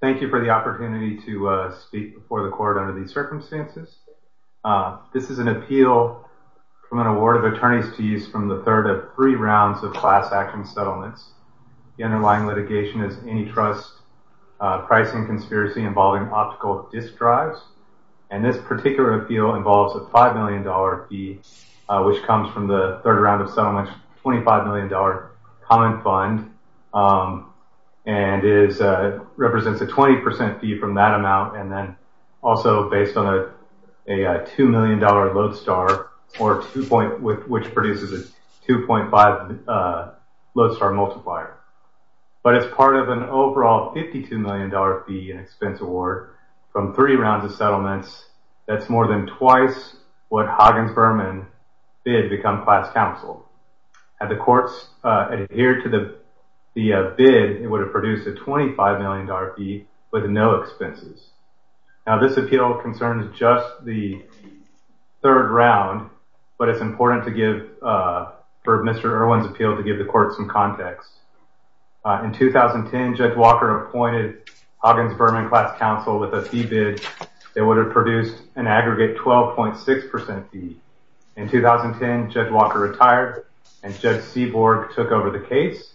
Thank you for the opportunity to speak before the Court under these circumstances. This is an appeal from an award of attorneys to use from the third of three rounds of class action settlements. The underlying litigation is antitrust pricing conspiracy involving optical disk drives. And this particular appeal involves a $5 million fee, which comes from the third round of settlements, $25 million common fund. And it represents a 20% fee from that amount and then also based on a $2 million load star multiplier, which produces a 2.5 load star multiplier. But it's part of an overall $52 million fee and expense award from three rounds of settlements. That's more than twice what Huggins Berman bid to become class counsel. Had the courts adhered to the bid, it would have produced a $25 million fee with no expenses. Now this appeal concerns just the third round, but it's important to give for Mr. Erwin's appeal to give the court some context. In 2010, Judge Walker appointed Huggins Berman class counsel with a fee bid that would have produced an aggregate 12.6% fee. In 2010, Judge Walker retired and Judge Seaborg took over the case.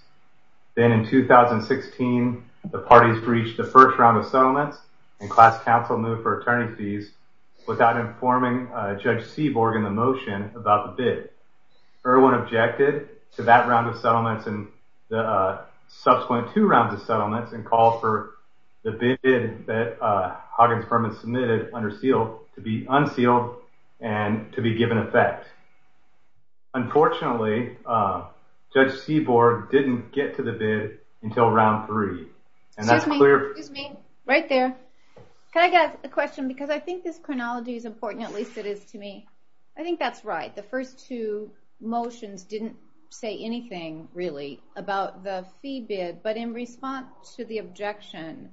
Then in 2016, the parties breached the first round of settlements and class counsel moved for attorney fees without informing Judge Seaborg in the motion about the bid. Erwin objected to that round of settlements and the subsequent two rounds of settlements and called for the bid that Huggins Berman submitted under seal to be unsealed and to be given effect. Unfortunately, Judge Seaborg didn't get to the bid until round three. And that's clear- Excuse me. Right there. Can I get a question? Because I think this chronology is important, at least it is to me. I think that's right. The first two motions didn't say anything really about the fee bid, but in response to the objection,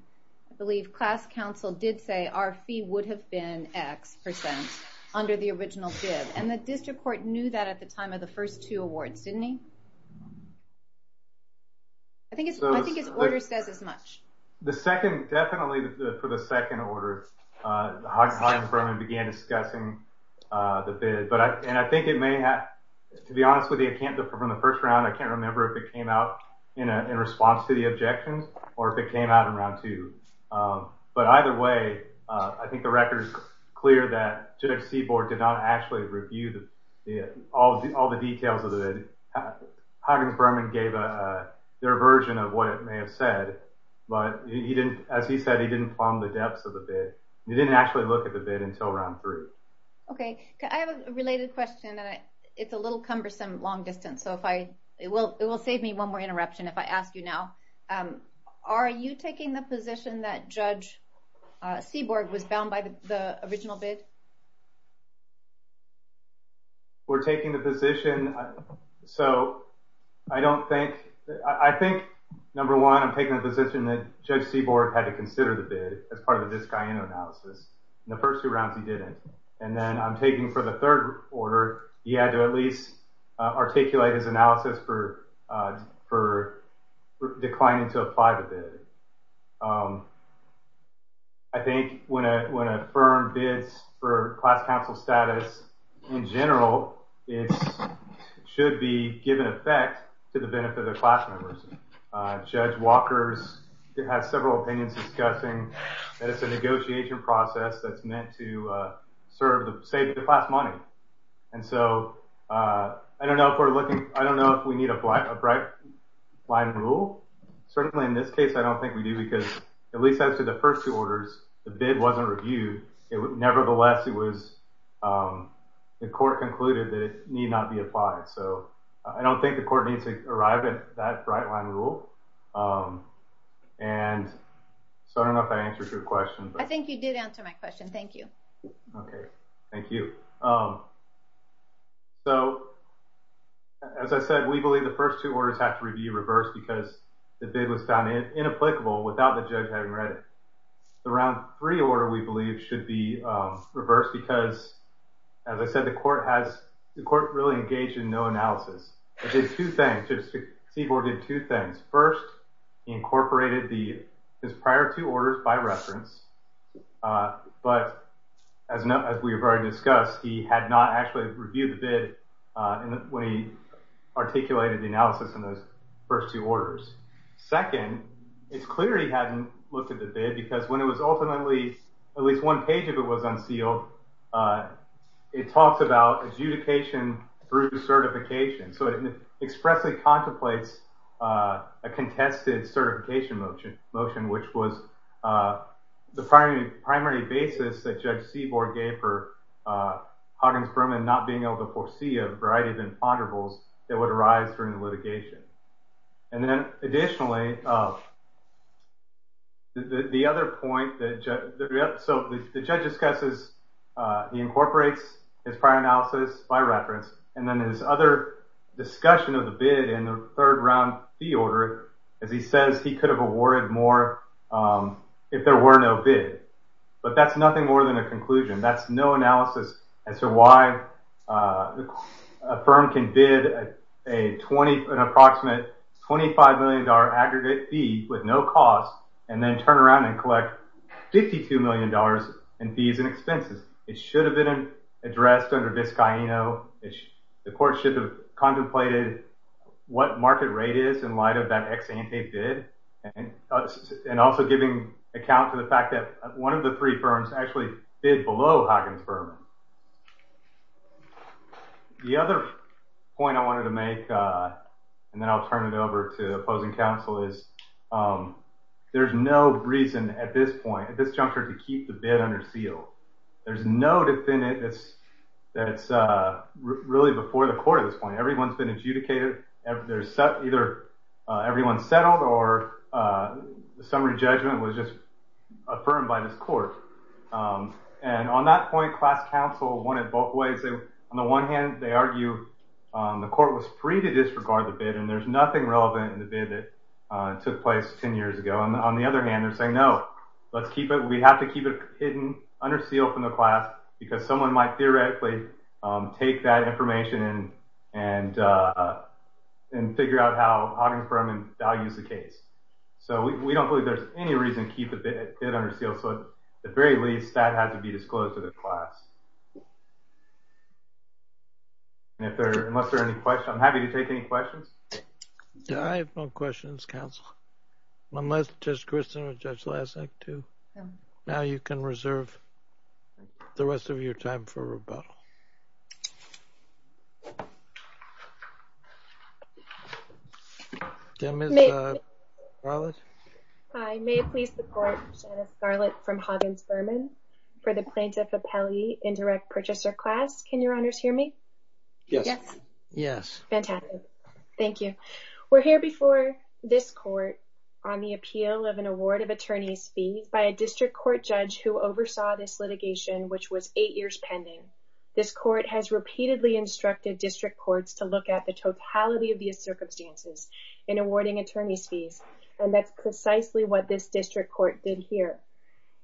I believe class counsel did say our fee would have been X% under the original bid. And the district court knew that at the time of the first two awards, didn't he? I think his order says as much. The second, definitely for the second order, Huggins Berman began discussing the bid. And I think it may have, to be honest with you, I can't, from the first round, I can't remember if it came out in response to the objections or if it came out in round two. But either way, I think the record is clear that Judge Seaborg did not actually review all the details of the bid. Huggins Berman gave their version of what it may have said. But as he said, he didn't plumb the depths of the bid. He didn't actually look at the bid until round three. Okay. I have a related question, and it's a little cumbersome long distance. So it will save me one more interruption if I ask you now. Are you taking the position that Judge Seaborg was bound by the original bid? We're taking the position, so I don't think, I think, number one, I'm taking the position that Judge Seaborg had to consider the bid as part of the Biscayne analysis. In the first two rounds, he didn't. And then I'm taking for the third order, he had to at least articulate his analysis for declining to apply the bid. I think when a firm bids for class council status in general, it should be given effect to the benefit of the class members. Judge Walker has several opinions discussing that it's a negotiation process that's meant to save the class money. And so I don't know if we need a bright line rule. Certainly in this case, I don't think we do, because at least after the first two orders, the bid wasn't reviewed. Nevertheless, the court concluded that it need not be applied. So I don't think the court needs to arrive at that bright line rule. And so I don't know if I answered your question. I think you did answer my question. Thank you. Okay. Thank you. So, as I said, we believe the first two orders have to be reversed because the bid was found inapplicable without the judge having read it. The round three order, we believe, should be reversed because, as I said, the court really engaged in no analysis. Judge Seaborg did two things. First, he incorporated his prior two orders by reference. But as we have already discussed, he had not actually reviewed the bid when he articulated the analysis in those first two orders. Second, it's clear he hadn't looked at the bid because when it was ultimately, at least one page of it was unsealed, it talks about adjudication through certification. So it expressly contemplates a contested certification motion, which was the primary basis that Judge Seaborg gave for Hoggins-Berman not being able to foresee a variety of imponderables that would arise during the litigation. And then, additionally, the other point that the judge discusses, he incorporates his prior analysis by reference. And then there's other discussion of the bid in the third round fee order as he says he could have awarded more if there were no bid. But that's nothing more than a conclusion. That's no analysis as to why a firm can bid an approximate $25 million aggregate fee with no cost and then turn around and collect $52 million in fees and expenses. It should have been addressed under Vizcaíno. The court should have contemplated what market rate is in light of that ex-ante bid and also giving account to the fact that one of the three firms actually bid below Hoggins-Berman. The other point I wanted to make, and then I'll turn it over to opposing counsel, is there's no reason at this point, at this juncture, to keep the bid under seal. There's no defendant that's really before the court at this point. Everyone's been adjudicated. Either everyone's settled or the summary judgment was just affirmed by this court. And on that point, class counsel wanted both ways. On the one hand, they argue the court was free to disregard the bid, and there's nothing relevant in the bid that took place 10 years ago. On the other hand, they're saying, no, let's keep it. We have to keep it hidden, under seal from the class, because someone might theoretically take that information and figure out how Hoggins-Berman values the case. So we don't believe there's any reason to keep the bid under seal. So at the very least, that had to be disclosed to the class. Unless there are any questions. I'm happy to take any questions. Yeah, I have no questions, counsel. Unless Judge Christin or Judge Lasek, too. Now you can reserve the rest of your time for rebuttal. Can Ms. Scarlett? I may please support Janice Scarlett from Hoggins-Berman for the plaintiff appellee indirect purchaser class. Can your honors hear me? Yes. Yes. Fantastic. Thank you. We're here before this court on the appeal of an award of attorney's fees by a district court judge who oversaw this litigation, which was eight years pending. This court has repeatedly instructed district courts to look at the totality of the circumstances in awarding attorney's fees, and that's precisely what this district court did here.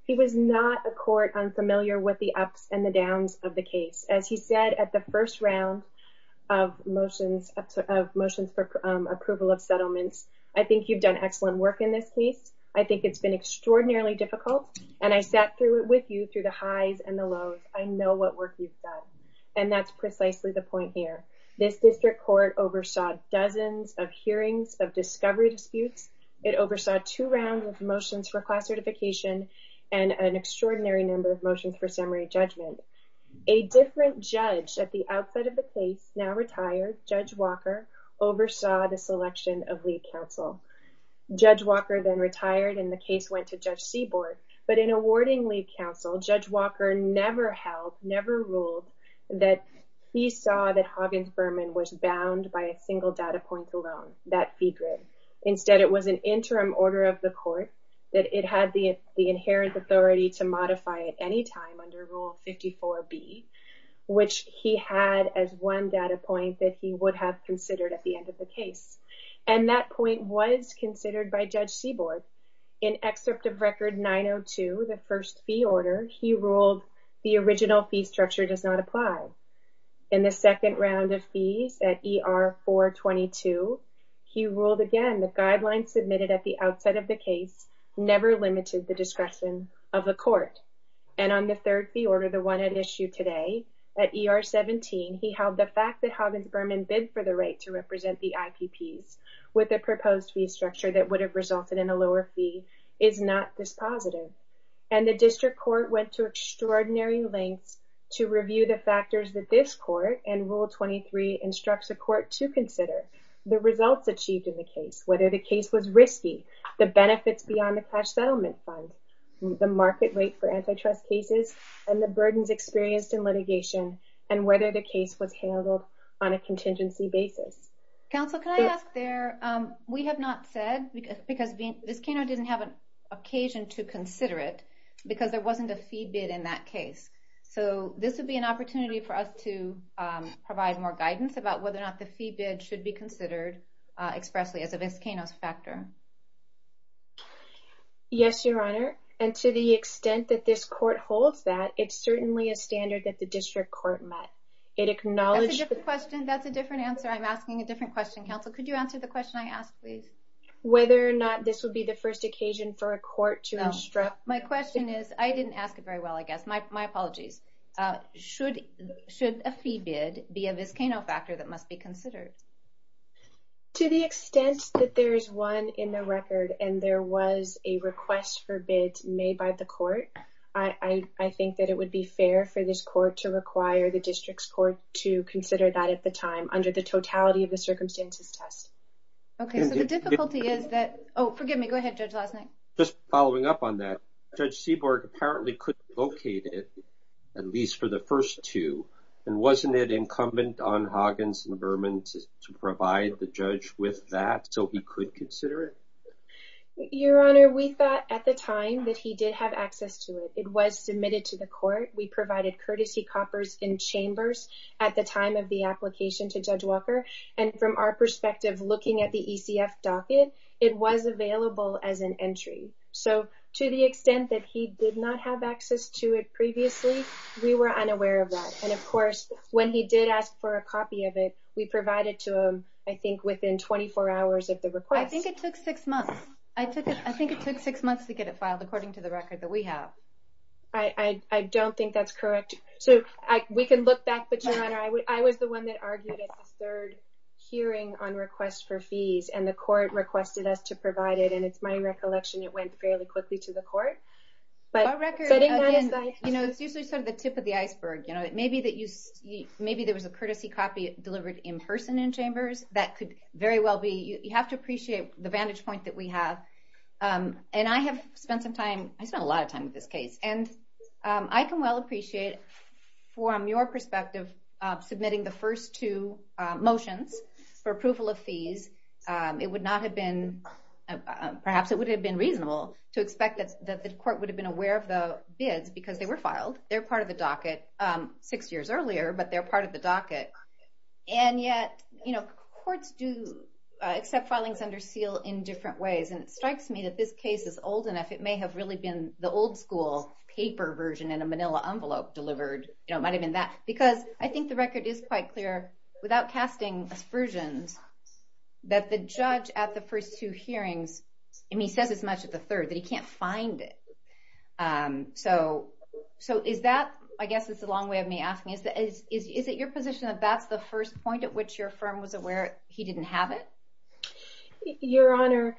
He was not a court unfamiliar with the ups and the downs of the case. As he said at the first round of motions for approval of settlements, I think you've done excellent work in this case. I think it's been extraordinarily difficult, and I sat with you through the highs and the lows. I know what work you've done, and that's precisely the point here. This district court oversaw dozens of hearings of discovery disputes. It oversaw two rounds of motions for class certification and an extraordinary number of motions for summary judgment. A different judge at the outset of the case, now retired, Judge Walker, oversaw the selection of lead counsel. Judge Walker then retired, and the case went to Judge Seaborg. But in awarding lead counsel, Judge Walker never held, never ruled that he saw that Hoggins-Berman was bound by a single data point alone, that fee grid. Instead, it was an interim order of the court that it had the inherent authority to modify at any time under Rule 54B, which he had as one data point that he would have considered at the end of the case. And that point was considered by Judge Seaborg. In Excerpt of Record 902, the first fee order, he ruled the original fee structure does not apply. In the second round of fees at ER 422, he ruled again the guidelines submitted at the outset of the case never limited the discretion of the court. And on the third fee order, the one at issue today, at ER 17, he held the fact that Hoggins-Berman bid for the right to represent the IPPs with a proposed fee structure that would have resulted in a lower fee is not dispositive. And the district court went to extraordinary lengths to review the factors that this court and Rule 23 instructs the court to consider, the results achieved in the case, whether the case was risky, the benefits beyond the cash settlement fund, the market rate for antitrust cases, and the burdens experienced in litigation, and whether the case was handled on a contingency basis. Counsel, can I ask there, we have not said, because Vizcano didn't have an occasion to consider it because there wasn't a fee bid in that case. So this would be an opportunity for us to provide more guidance about whether or not the fee bid should be considered expressly as a Vizcano factor. Yes, Your Honor. And to the extent that this court holds that, it's certainly a standard that the district court met. That's a different answer. I'm asking a different question. Counsel, could you answer the question I asked, please? Whether or not this would be the first occasion for a court to instruct? My question is, I didn't ask it very well, I guess. My apologies. Should a fee bid be a Vizcano factor that must be considered? To the extent that there is one in the record and there was a request for bids made by the court, I think that it would be fair for this court to require the district's court to consider that at the time under the totality of the circumstances test. Okay. So the difficulty is that – oh, forgive me. Go ahead, Judge Lasnik. Just following up on that, Judge Seaborg apparently could locate it, at least for the first two. And wasn't it incumbent on Hoggins and Berman to provide the judge with that so he could consider it? Your Honor, we thought at the time that he did have access to it. It was submitted to the court. We provided courtesy coppers in chambers at the time of the application to Judge Walker, and from our perspective looking at the ECF docket, it was available as an entry. So to the extent that he did not have access to it previously, we were unaware of that. And, of course, when he did ask for a copy of it, we provided to him I think within 24 hours of the request. I think it took six months. I think it took six months to get it filed according to the record that we have. We can look back, but, Your Honor, I was the one that argued at the third hearing on request for fees, and the court requested us to provide it. And it's my recollection it went fairly quickly to the court. But setting that aside. You know, it's usually sort of the tip of the iceberg. Maybe there was a courtesy copy delivered in person in chambers. That could very well be. You have to appreciate the vantage point that we have. And I have spent some time, I spent a lot of time with this case. And I can well appreciate from your perspective submitting the first two motions for approval of fees. It would not have been, perhaps it would have been reasonable to expect that the court would have been aware of the bids because they were filed. They're part of the docket six years earlier, but they're part of the docket. And yet, you know, courts do accept filings under seal in different ways. And it strikes me that this case is old enough. It may have really been the old school paper version in a manila envelope delivered. You know, it might have been that. Because I think the record is quite clear, without casting aspersions, that the judge at the first two hearings, and he says as much at the third, that he can't find it. So is that, I guess it's a long way of me asking, is it your position that that's the first point at which your firm was aware he didn't have it? Your Honor,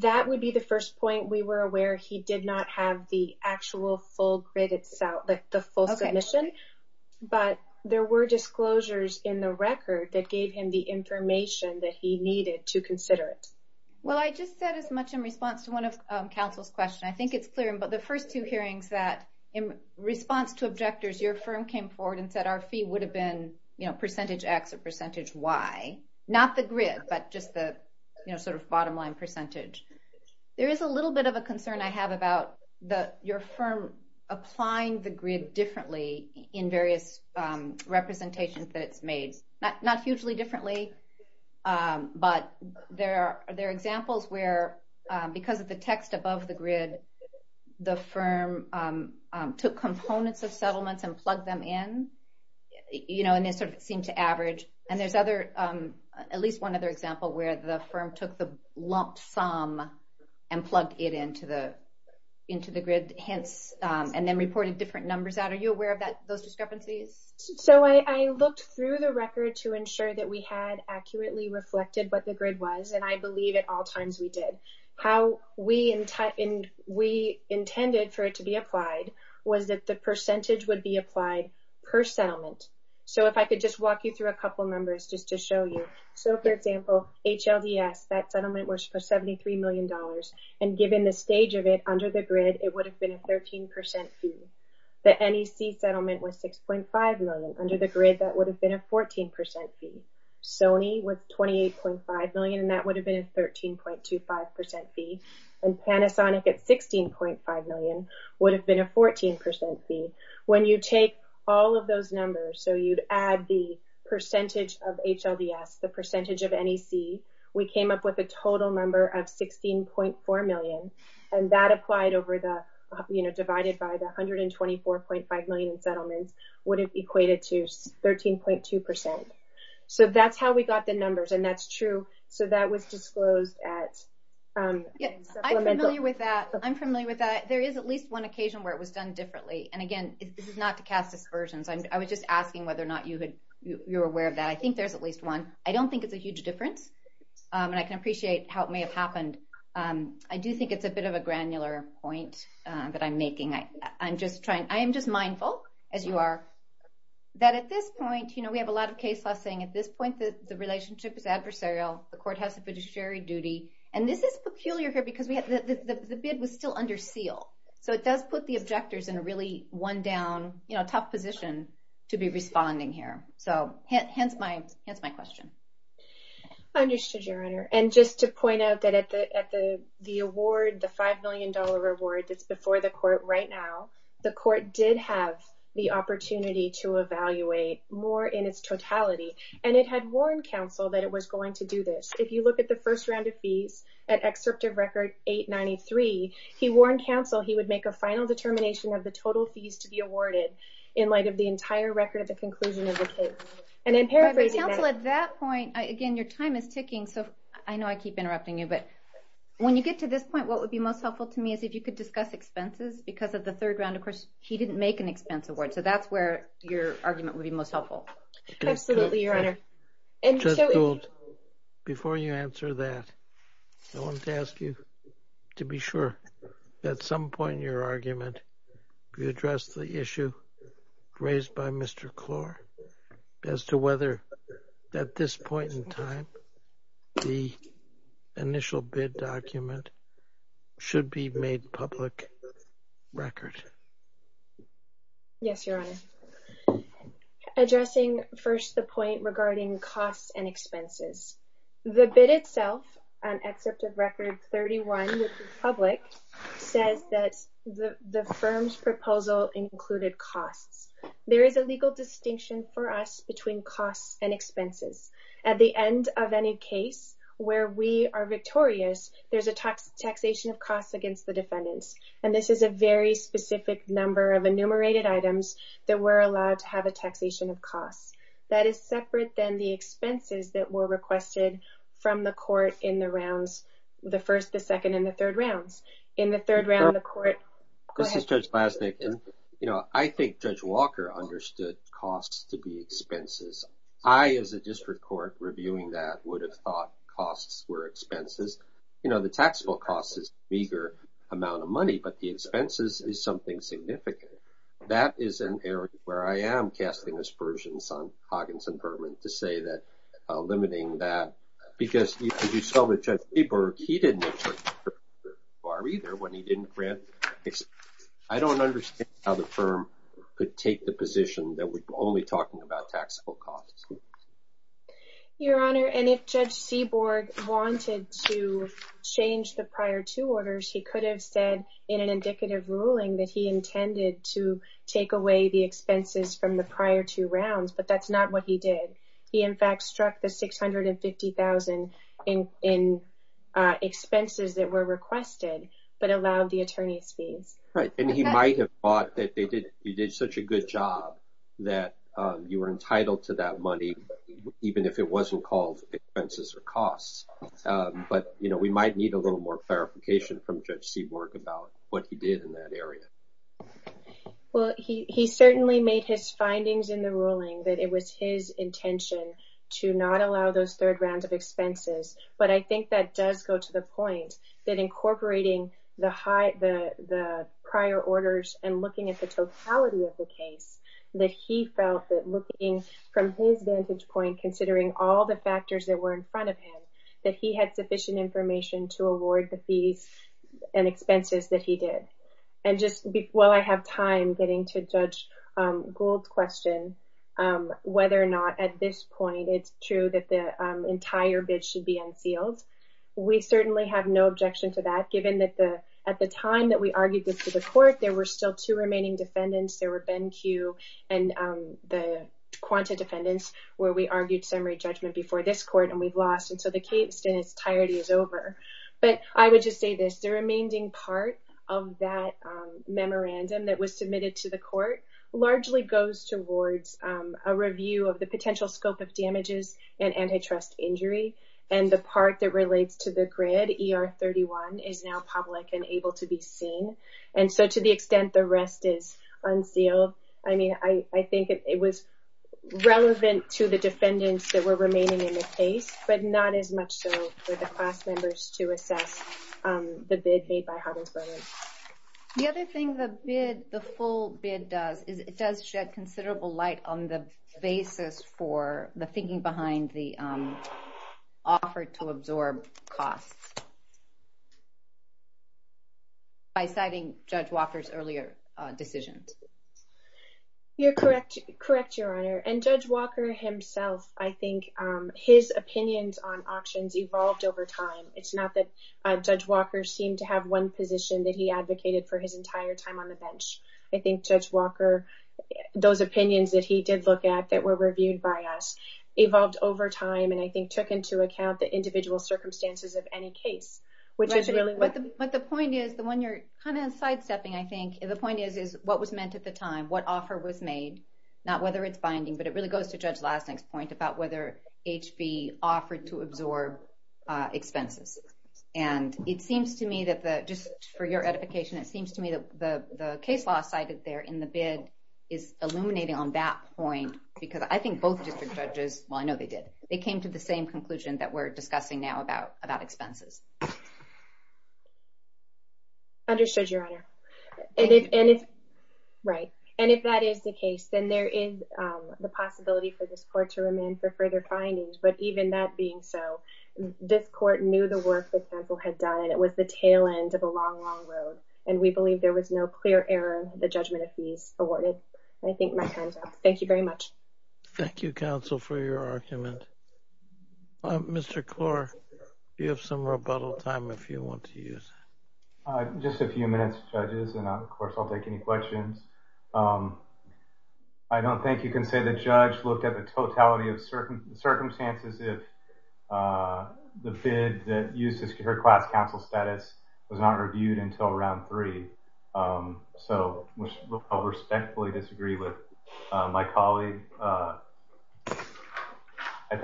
that would be the first point. We were aware he did not have the actual full grid itself, the full submission. But there were disclosures in the record that gave him the information that he needed to consider it. Well, I just said as much in response to one of counsel's questions. I think it's clear. But the first two hearings that in response to objectors, your firm came forward and said our fee would have been, you know, percentage X or percentage Y. Not the grid, but just the, you know, sort of bottom line percentage. There is a little bit of a concern I have about your firm applying the grid differently in various representations that it's made. Not hugely differently, but there are examples where because of the text above the grid, the firm took components of settlements and plugged them in, you know, and they sort of seemed to average. And there's at least one other example where the firm took the lump sum and plugged it into the grid, hence and then reported different numbers out. Are you aware of those discrepancies? So I looked through the record to ensure that we had accurately reflected what the grid was, and I believe at all times we did. How we intended for it to be applied was that the percentage would be applied per settlement. So if I could just walk you through a couple numbers just to show you. So for example, HLDS, that settlement was for $73 million, and given the stage of it under the grid, it would have been a 13% fee. The NEC settlement was $6.5 million. Under the grid, that would have been a 14% fee. Sony was $28.5 million, and that would have been a 13.25% fee. And Panasonic at $16.5 million would have been a 14% fee. When you take all of those numbers, so you'd add the percentage of HLDS, the percentage of NEC, we came up with a total number of $16.4 million, and that applied divided by the $124.5 million in settlements would have equated to 13.2%. So that's how we got the numbers, and that's true. So that was disclosed at supplemental. I'm familiar with that. There is at least one occasion where it was done differently, and again, this is not to cast aspersions. I was just asking whether or not you're aware of that. I think there's at least one. I don't think it's a huge difference, and I can appreciate how it may have happened. I do think it's a bit of a granular point that I'm making. I am just mindful, as you are, that at this point, you know, we have a lot of case law saying at this point the relationship is adversarial, the court has a fiduciary duty, and this is peculiar here because the bid was still under seal. So it does put the objectors in a really one-down, you know, tough position to be responding here. So hence my question. I understood, Your Honor, and just to point out that at the award, the $5 million reward that's before the court right now, the court did have the opportunity to evaluate more in its totality, and it had warned counsel that it was going to do this. If you look at the first round of fees at Excerptive Record 893, he warned counsel he would make a final determination of the total fees to be awarded in light of the entire record of the conclusion of the case. And in paraphrasing that... But counsel, at that point, again, your time is ticking, so I know I keep interrupting you, but when you get to this point, what would be most helpful to me is if you could discuss expenses because of the third round. Of course, he didn't make an expense award, so that's where your argument would be most helpful. Absolutely, Your Honor. Judge Gould, before you answer that, I wanted to ask you to be sure at some point in your argument you addressed the issue raised by Mr. Klor as to whether at this point in time the initial bid document should be made public record. Yes, Your Honor. Addressing first the point regarding costs and expenses, the bid itself on Excerptive Record 31, which is public, says that the firm's proposal included costs. There is a legal distinction for us between costs and expenses. At the end of any case where we are victorious, there's a taxation of costs against the defendants, and this is a very specific number of enumerated items that we're allowed to have a taxation of costs. That is separate than the expenses that were requested from the court in the rounds, the first, the second, and the third rounds. In the third round, the court… This is Judge Glasnick, and I think Judge Walker understood costs to be expenses. I, as a district court, reviewing that would have thought costs were expenses. You know, the taxable cost is a meager amount of money, but the expenses is something significant. That is an area where I am casting aspersions on Hoggins and Berman to say that limiting that, because as you saw with Judge Seaborg, he didn't… either when he didn't grant… I don't understand how the firm could take the position that we're only talking about taxable costs. Your Honor, and if Judge Seaborg wanted to change the prior two orders, he could have said in an indicative ruling that he intended to take away the expenses from the prior two rounds, but that's not what he did. He, in fact, struck the $650,000 in expenses that were requested, but allowed the attorney's fees. Right, and he might have thought that you did such a good job that you were entitled to that money, even if it wasn't called expenses or costs. But, you know, we might need a little more clarification from Judge Seaborg about what he did in that area. Well, he certainly made his findings in the ruling that it was his intention to not allow those third rounds of expenses, but I think that does go to the point that incorporating the prior orders and looking at the totality of the case, that he felt that looking from his vantage point, considering all the factors that were in front of him, that he had sufficient information to award the fees and expenses that he did. And just while I have time getting to Judge Gould's question whether or not at this point it's true that the entire bid should be unsealed, we certainly have no objection to that, given that at the time that we argued this to the court, there were still two remaining defendants. There were Ben Q. and the Quanta defendants, where we argued summary judgment before this court, and we've lost. And so the case in its entirety is over. But I would just say this. The remaining part of that memorandum that was submitted to the court largely goes towards a review of the potential scope of damages and antitrust injury, and the part that relates to the grid, ER-31, is now public and able to be seen. And so to the extent the rest is unsealed, I mean I think it was relevant to the defendants that were remaining in the case, but not as much so for the class members to assess the bid made by Huttlesboro. The other thing the full bid does is it does shed considerable light on the basis for the thinking behind the offer to absorb costs by citing Judge Walker's earlier decisions. You're correct, Your Honor, and Judge Walker himself, I think his opinions on auctions evolved over time. It's not that Judge Walker seemed to have one position I think Judge Walker, those opinions that he did look at that were reviewed by us, evolved over time and I think took into account the individual circumstances of any case. But the point is, the one you're kind of sidestepping I think, the point is what was meant at the time, what offer was made, not whether it's binding, but it really goes to Judge Lasnik's point about whether HB offered to absorb expenses. And it seems to me that just for your edification, it seems to me that the case law cited there in the bid is illuminating on that point because I think both district judges, well I know they did, they came to the same conclusion that we're discussing now about expenses. Understood, Your Honor. And if that is the case, then there is the possibility for this court to remand for further findings, but even that being so, this court knew the work the council had done and it was the tail end of a long, long road. And we believe there was no clear error in the judgment of fees awarded. I think my time's up. Thank you very much. Thank you, counsel, for your argument. Mr. Klor, you have some rebuttal time if you want to use. Just a few minutes, judges, and of course I'll take any questions. I don't think you can say the judge looked at the totality of circumstances as if the bid that used her class counsel status was not reviewed until round three, which I'll respectfully disagree with my colleague. I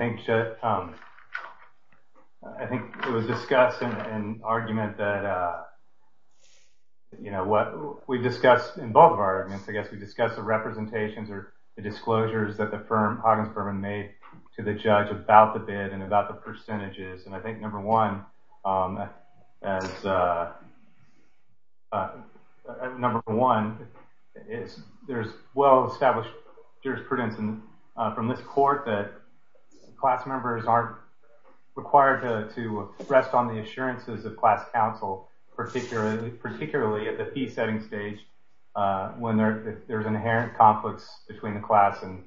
think it was discussed in an argument that what we discussed in both of our arguments, I guess we discussed the representations or the disclosures that the firm, Huggins Furman, made to the judge about the bid and about the percentages. And I think, number one, there's well-established jurisprudence from this court that class members aren't required to rest on the assurances of class counsel, particularly at the fee-setting stage when there's inherent conflicts between the class and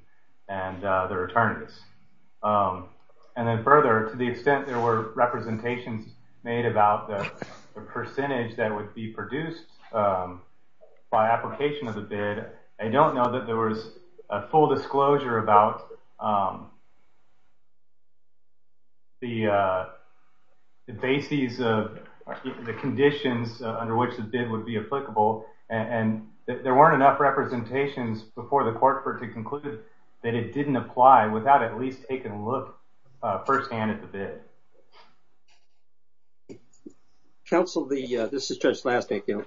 their attorneys. And then further, to the extent there were representations made about the percentage that would be produced by application of the bid, I don't know that there was a full disclosure about the bases or the conditions under which the bid would be applicable and there weren't enough representations before the court for it to conclude that it didn't apply without at least taking a look firsthand at the bid. Counsel, this is Judge Slastik.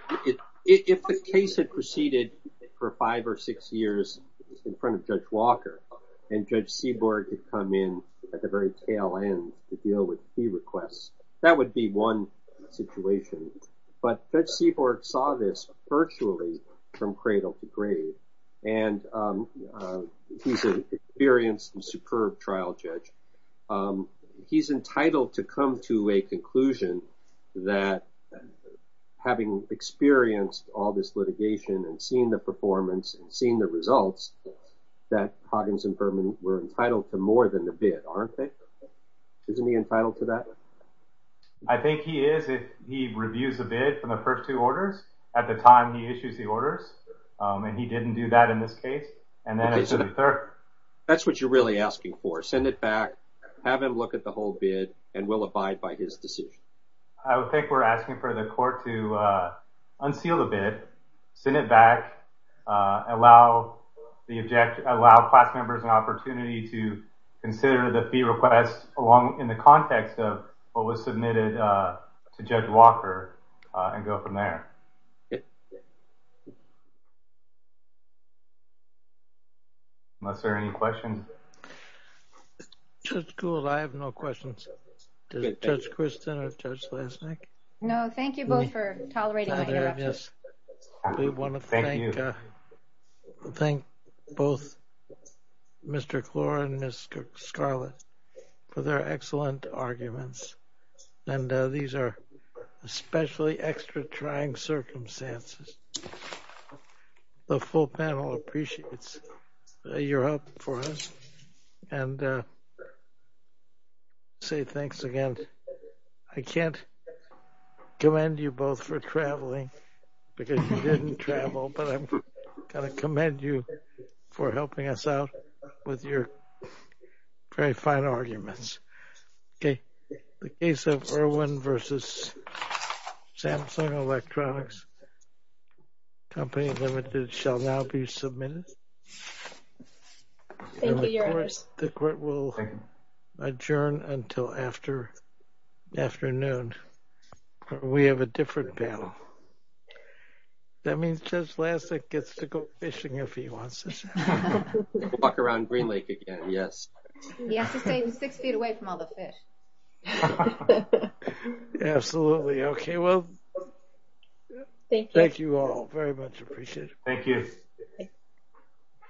If the case had proceeded for five or six years in front of Judge Walker and Judge Seaborg had come in at the very tail end to deal with fee requests, that would be one situation. But Judge Seaborg saw this virtually from cradle to grave, and he's an experienced and superb trial judge. He's entitled to come to a conclusion that having experienced all this litigation and seen the performance and seen the results, that Hoggins and Furman were entitled to more than the bid, aren't they? Isn't he entitled to that? I think he is if he reviews the bid from the first two orders at the time he issues the orders, and he didn't do that in this case. That's what you're really asking for, send it back, have him look at the whole bid, and we'll abide by his decision. I would think we're asking for the court to unseal the bid, send it back, allow class members an opportunity to consider the fee request in the context of what was submitted to Judge Walker and go from there. Unless there are any questions. Judge Gould, I have no questions. Does Judge Christin or Judge Lesnik? No, thank you both for tolerating my interruption. We want to thank both Mr. Clore and Ms. Scarlett for their excellent arguments, and these are especially extra trying circumstances. The full panel appreciates your help for us and say thanks again. I can't commend you both for traveling because you didn't travel, but I'm going to commend you for helping us out with your very fine arguments. The case of Irwin v. Samsung Electronics, Company Limited, shall now be submitted. Thank you, Your Honors. The court will adjourn until afternoon. We have a different panel. That means Judge Lesnik gets to go fishing if he wants to. Walk around Green Lake again, yes. He has to stay six feet away from all the fish. Absolutely. Okay, well, thank you all very much. Thank you.